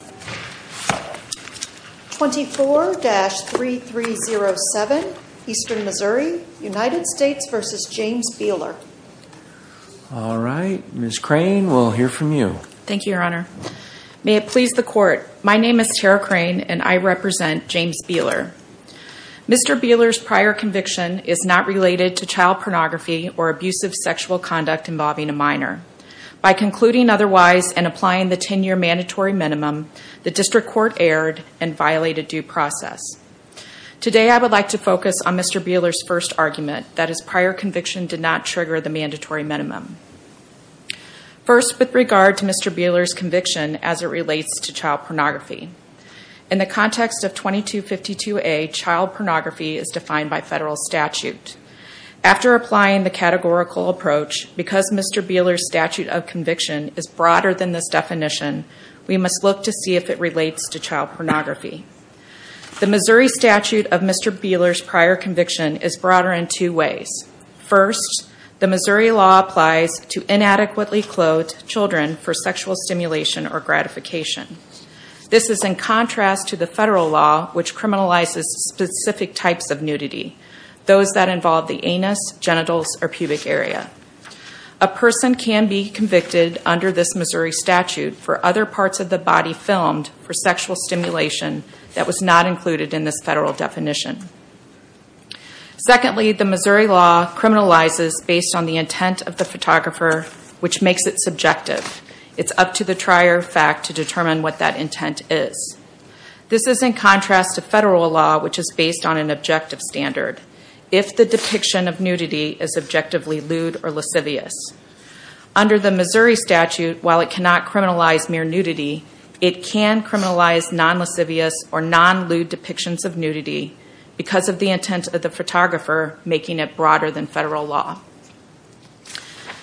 All right, Ms. Crane, we'll hear from you. Thank you, Your Honor. May it please the Court, my name is Tara Crane and I represent James Beeler. Mr. Beeler's prior conviction is not related to child pornography or abusive sexual conduct involving a minor. By concluding otherwise and applying the 10-year mandatory minimum, the District Court erred and violated due process. Today I would like to focus on Mr. Beeler's first argument that his prior conviction did not trigger the mandatory minimum. First with regard to Mr. Beeler's conviction as it relates to child pornography. In the context of 2252A, child pornography is defined by federal statute. After applying the categorical approach, because Mr. Beeler's statute of conviction is broader than this definition, we must look to see if it relates to child pornography. The Missouri statute of Mr. Beeler's prior conviction is broader in two ways. First, the Missouri law applies to inadequately clothed children for sexual stimulation or gratification. This is in contrast to the federal law which criminalizes specific types of nudity, those that involve the anus, genitals, or pubic area. A person can be convicted under this Missouri statute for other parts of the body filmed for sexual stimulation that was not included in this federal definition. Secondly, the Missouri law criminalizes based on the intent of the photographer which makes it subjective. It's up to the trier of fact to determine what that intent is. This is in contrast to federal law which is based on an objective standard. If the depiction of nudity is objectively lewd or lascivious. Under the Missouri statute, while it cannot criminalize mere nudity, it can criminalize non-lascivious or non-lewd depictions of nudity because of the intent of the photographer making it broader than federal law.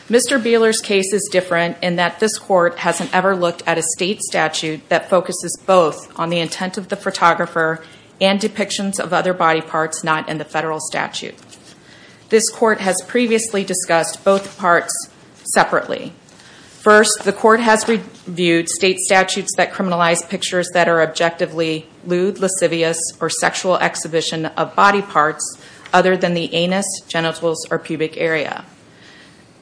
Mr. Beeler's case is different in that this court hasn't ever looked at a state statute that focuses both on the intent of the photographer and depictions of other body parts not in the federal statute. This court has previously discussed both parts separately. First, the court has reviewed state statutes that criminalize pictures that are objectively lewd, lascivious, or sexual exhibition of body parts other than the anus, genitals, or pubic area.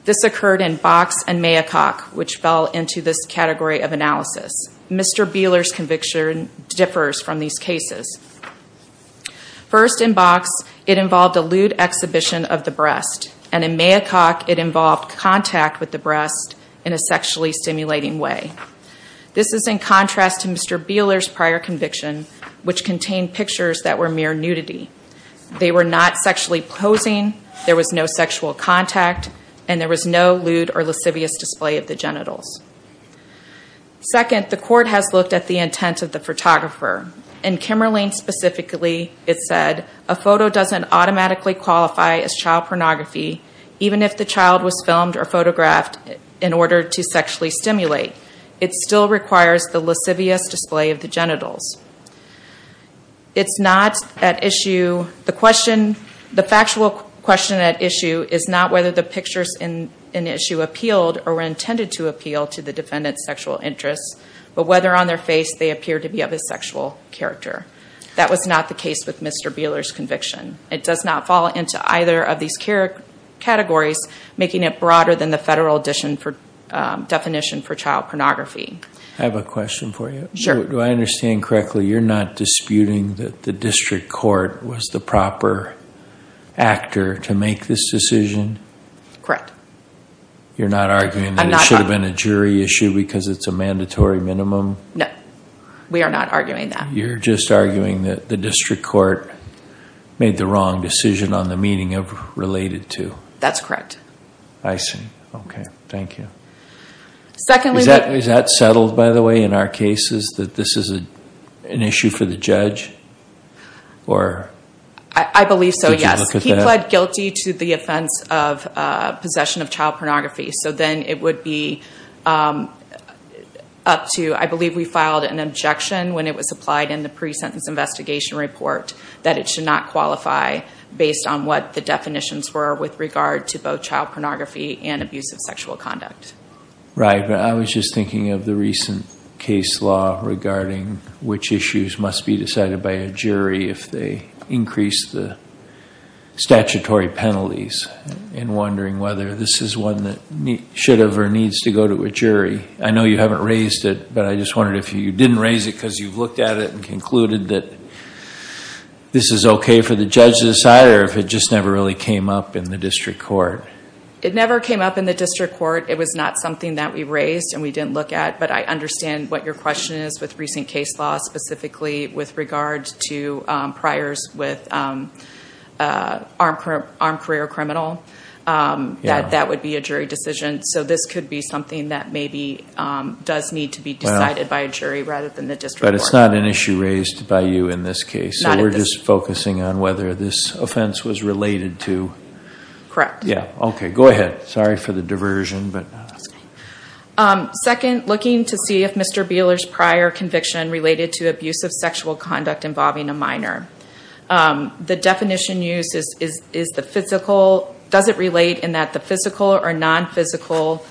This occurred in Box and Maycock which fell into this category of analysis. Mr. Beeler's conviction differs from these cases. First, in Box it involved a lewd exhibition of the breast and in Maycock it involved contact with the breast in a sexually stimulating way. This is in contrast to Mr. Beeler's prior conviction which contained pictures that were mere nudity. They were not sexually posing, there was no sexual contact, and there was no lewd or lascivious display of the genitals. Second, the court has looked at the intent of the photographer. In Kimmerling specifically it said, a photo doesn't automatically qualify as child pornography even if the child was filmed or photographed in order to sexually stimulate. It still requires the lascivious display of the genitals. It's not at issue, the question, the factual question at issue is not whether the pictures in the issue appealed or were intended to appeal to the defendant's sexual interests but whether on their face they appeared to be of a sexual character. That was not the case with Mr. Beeler's conviction. It does not fall into either of these categories making it broader than the federal definition for child pornography. I have a question for you. Sure. Do I understand correctly, you're not disputing that the district court was the proper actor to make this decision? Correct. You're not arguing that it should have been a jury issue because it's a mandatory minimum? No. We are not arguing that. You're just arguing that the district court made the wrong decision on the meeting of related to? That's correct. I see. Okay. Thank you. Secondly... Is that settled, by the way, in our cases that this is an issue for the judge? Or... I believe so, yes. Did you look at that? We pled guilty to the offense of possession of child pornography. So then it would be up to, I believe we filed an objection when it was applied in the pre-sentence investigation report that it should not qualify based on what the definitions were with regard to both child pornography and abusive sexual conduct. Right. But I was just thinking of the recent case law regarding which issues must be decided by a jury if they increase the statutory penalties and wondering whether this is one that should have or needs to go to a jury. I know you haven't raised it, but I just wondered if you didn't raise it because you've looked at it and concluded that this is okay for the judge to decide or if it just never really came up in the district court? It never came up in the district court. It was not something that we raised and we didn't look at, but I understand what your case law specifically with regards to priors with an armed career criminal, that that would be a jury decision. So this could be something that maybe does need to be decided by a jury rather than the district court. But it's not an issue raised by you in this case, so we're just focusing on whether this offense was related to... Correct. Yeah. Okay. Go ahead. Sorry for the diversion. That's okay. Second, looking to see if Mr. Buehler's prior conviction related to abusive sexual conduct involving a minor. The definition used is the physical... Does it relate in that the physical or non-physical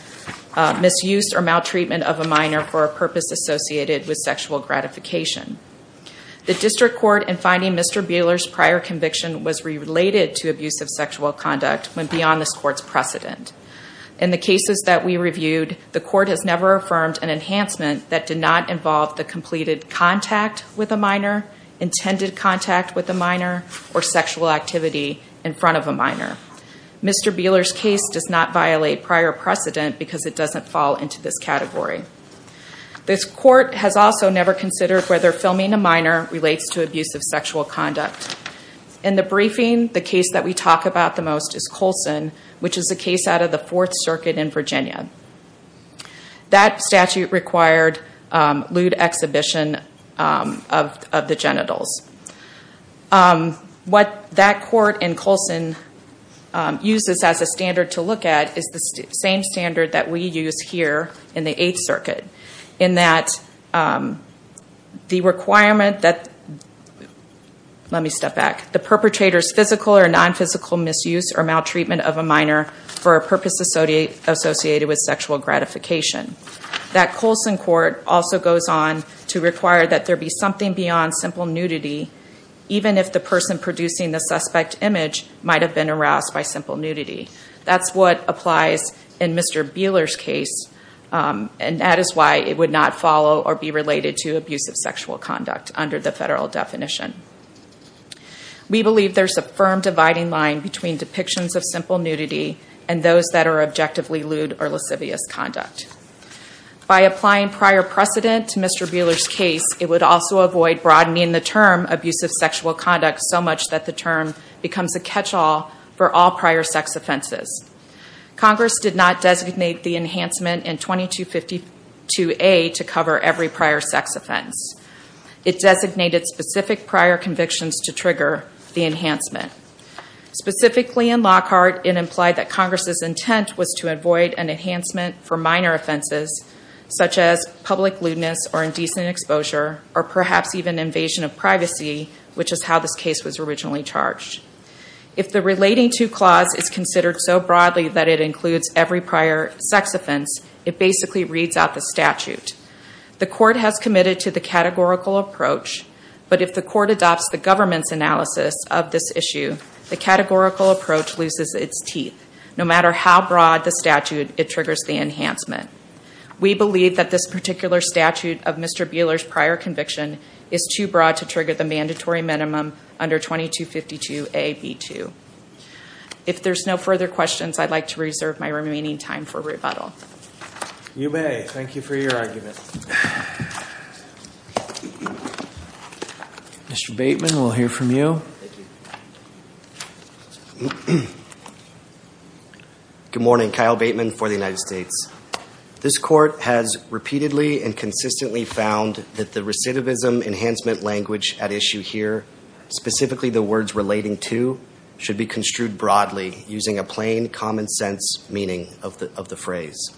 misuse or maltreatment of a minor for a purpose associated with sexual gratification? The district court in finding Mr. Buehler's prior conviction was related to abusive sexual conduct went beyond this court's precedent. In the cases that we reviewed, the court has never affirmed an enhancement that did not involve the completed contact with a minor, intended contact with a minor, or sexual activity in front of a minor. Mr. Buehler's case does not violate prior precedent because it doesn't fall into this category. This court has also never considered whether filming a minor relates to abusive sexual conduct. In the briefing, the case that we talk about the most is Colson, which is the case out of the Fourth Circuit in Virginia. That statute required lewd exhibition of the genitals. What that court in Colson uses as a standard to look at is the same standard that we use here in the Eighth Circuit in that the requirement that the perpetrator's physical or non-physical misuse or maltreatment of a minor for a purpose associated with sexual gratification. That Colson court also goes on to require that there be something beyond simple nudity even if the person producing the suspect image might have been aroused by simple nudity. That's what applies in Mr. Buehler's case and that is why it would not follow or be related to abusive sexual conduct under the federal definition. We believe there's a firm dividing line between depictions of simple nudity and those that are objectively lewd or lascivious conduct. By applying prior precedent to Mr. Buehler's case, it would also avoid broadening the term abusive sexual conduct so much that the term becomes a catch-all for all prior sex offenses. Congress did not designate the enhancement in 2252A to cover every prior sex offense. It designated specific prior convictions to trigger the enhancement. Specifically in Lockhart, it implied that Congress's intent was to avoid an enhancement for minor offenses such as public lewdness or indecent exposure or perhaps even invasion of privacy, which is how this case was originally charged. If the relating to clause is considered so broadly that it includes every prior sex offense, it basically reads out the statute. The court has committed to the categorical approach, but if the court adopts the government's analysis of this issue, the categorical approach loses its teeth no matter how broad the statute it triggers the enhancement. We believe that this particular statute of Mr. Buehler's prior conviction is too broad to trigger the mandatory minimum under 2252A.B.2. If there's no further questions, I'd like to reserve my remaining time for rebuttal. You may. Thank you for your argument. Mr. Bateman, we'll hear from you. Thank you. Good morning. Kyle Bateman for the United States. This court has repeatedly and consistently found that the recidivism enhancement language at issue here, specifically the words relating to, should be construed broadly using a plain common sense meaning of the phrase.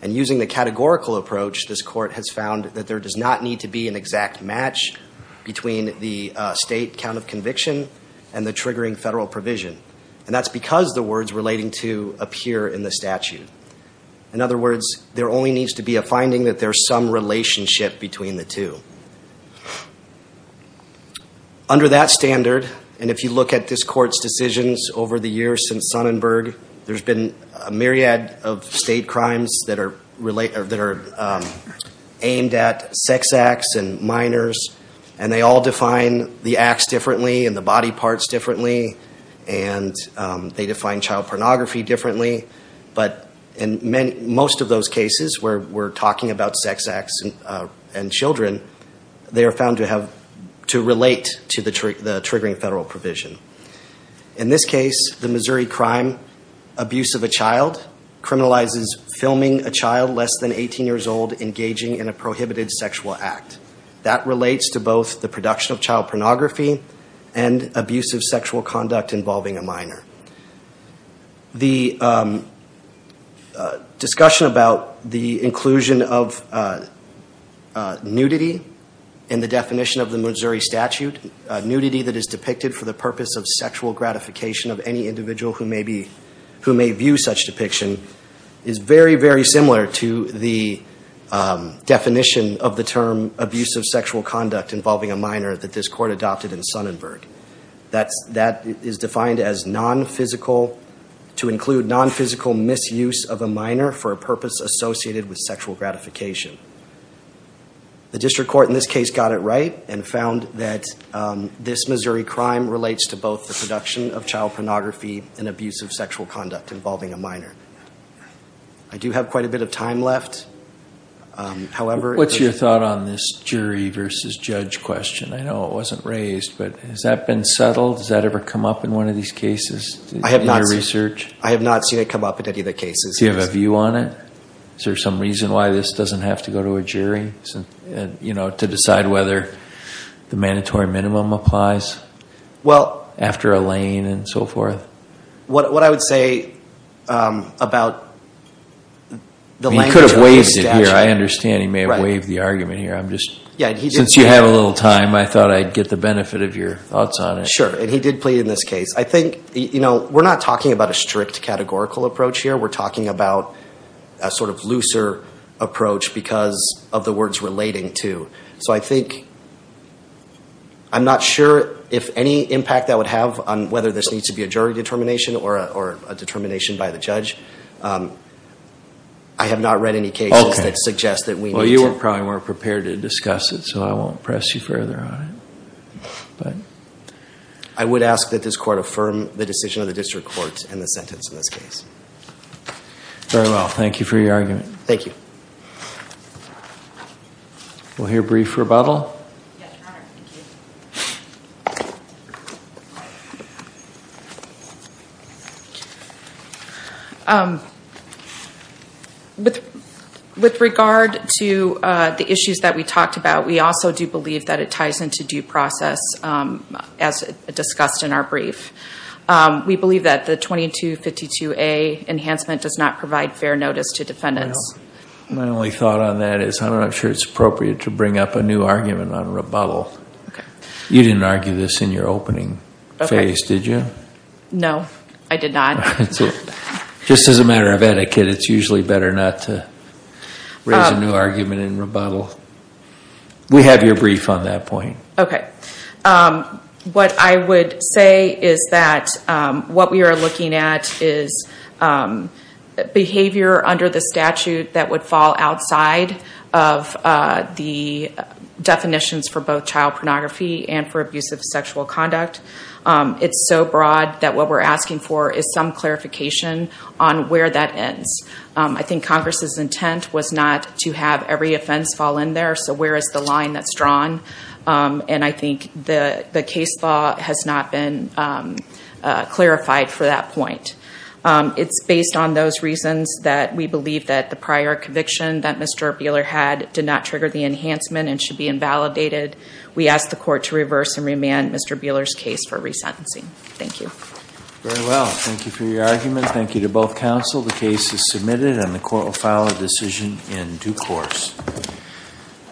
And using the categorical approach, this court has found that there does not need to be an exact match between the state count of conviction and the triggering federal provision. And that's because the words relating to appear in the statute. In other words, there only needs to be a finding that there's some relationship between the two. Under that standard, and if you look at this court's decisions over the years since Sonnenberg, there's been a myriad of state crimes that are aimed at sex acts and minors. And they all define the acts differently and the body parts differently. And they define child pornography differently. But in most of those cases where we're talking about sex acts and children, they are found to relate to the triggering federal provision. In this case, the Missouri crime, abuse of a child, criminalizes filming a child less than 18 years old engaging in a prohibited sexual act. That relates to both the production of child pornography and abusive sexual conduct involving a minor. The discussion about the inclusion of nudity in the definition of the Missouri statute, nudity that is depicted for the purpose of sexual gratification of any individual who may view such depiction, is very, very similar to the definition of the term abusive sexual conduct involving a minor that this court adopted in Sonnenberg. That is defined as non-physical, to include non-physical misuse of a minor for a purpose associated with sexual gratification. The district court in this case got it right and found that this Missouri crime relates to both the production of child pornography and abusive sexual conduct involving a minor. I do have quite a bit of time left. However... What's your thought on this jury versus judge question? I know it wasn't raised, but has that been settled? Does that ever come up in one of these cases? I have not seen it come up in any of the cases. Do you have a view on it? Is there some reason why this doesn't have to go to a jury to decide whether the mandatory minimum applies after a lane and so forth? What I would say about the language of the statute... He could have waived it here. I understand he may have waived the argument here. I'm just... Since you have a little time, I thought I'd get the benefit of your thoughts on it. Sure. He did plead in this case. I think we're not talking about a strict categorical approach here. We're talking about a sort of looser approach because of the words relating to. So I think... I'm not sure if any impact that would have on whether this needs to be a jury determination or a determination by the judge. I have not read any cases that suggest that we need to... Well, you probably weren't prepared to discuss it, so I won't press you further on it. I would ask that this court affirm the decision of the district court in the sentence in this case. Very well. Thank you for your argument. Thank you. We'll hear brief rebuttal. Yes. All right. Thank you. With regard to the issues that we talked about, we also do believe that it ties into due process as discussed in our brief. We believe that the 2252A enhancement does not provide fair notice to defendants. My only thought on that is I'm not sure it's appropriate to bring up a new argument on Okay. You didn't argue this in your opening phase, did you? No. I did not. That's it. Just as a matter of etiquette, it's usually better not to raise a new argument in rebuttal. We have your brief on that point. Okay. What I would say is that what we are looking at is behavior under the statute that would fall outside of the definitions for both child pornography and for abusive sexual conduct. It's so broad that what we're asking for is some clarification on where that ends. I think Congress's intent was not to have every offense fall in there, so where is the line that's drawn? I think the case law has not been clarified for that point. It's based on those reasons that we believe that the prior conviction that Mr. Buehler had did not trigger the enhancement and should be invalidated. We ask the court to reverse and remand Mr. Buehler's case for resentencing. Thank you. Very well. Thank you for your argument. Thank you to both counsel. The case is submitted and the court will file a decision in due course.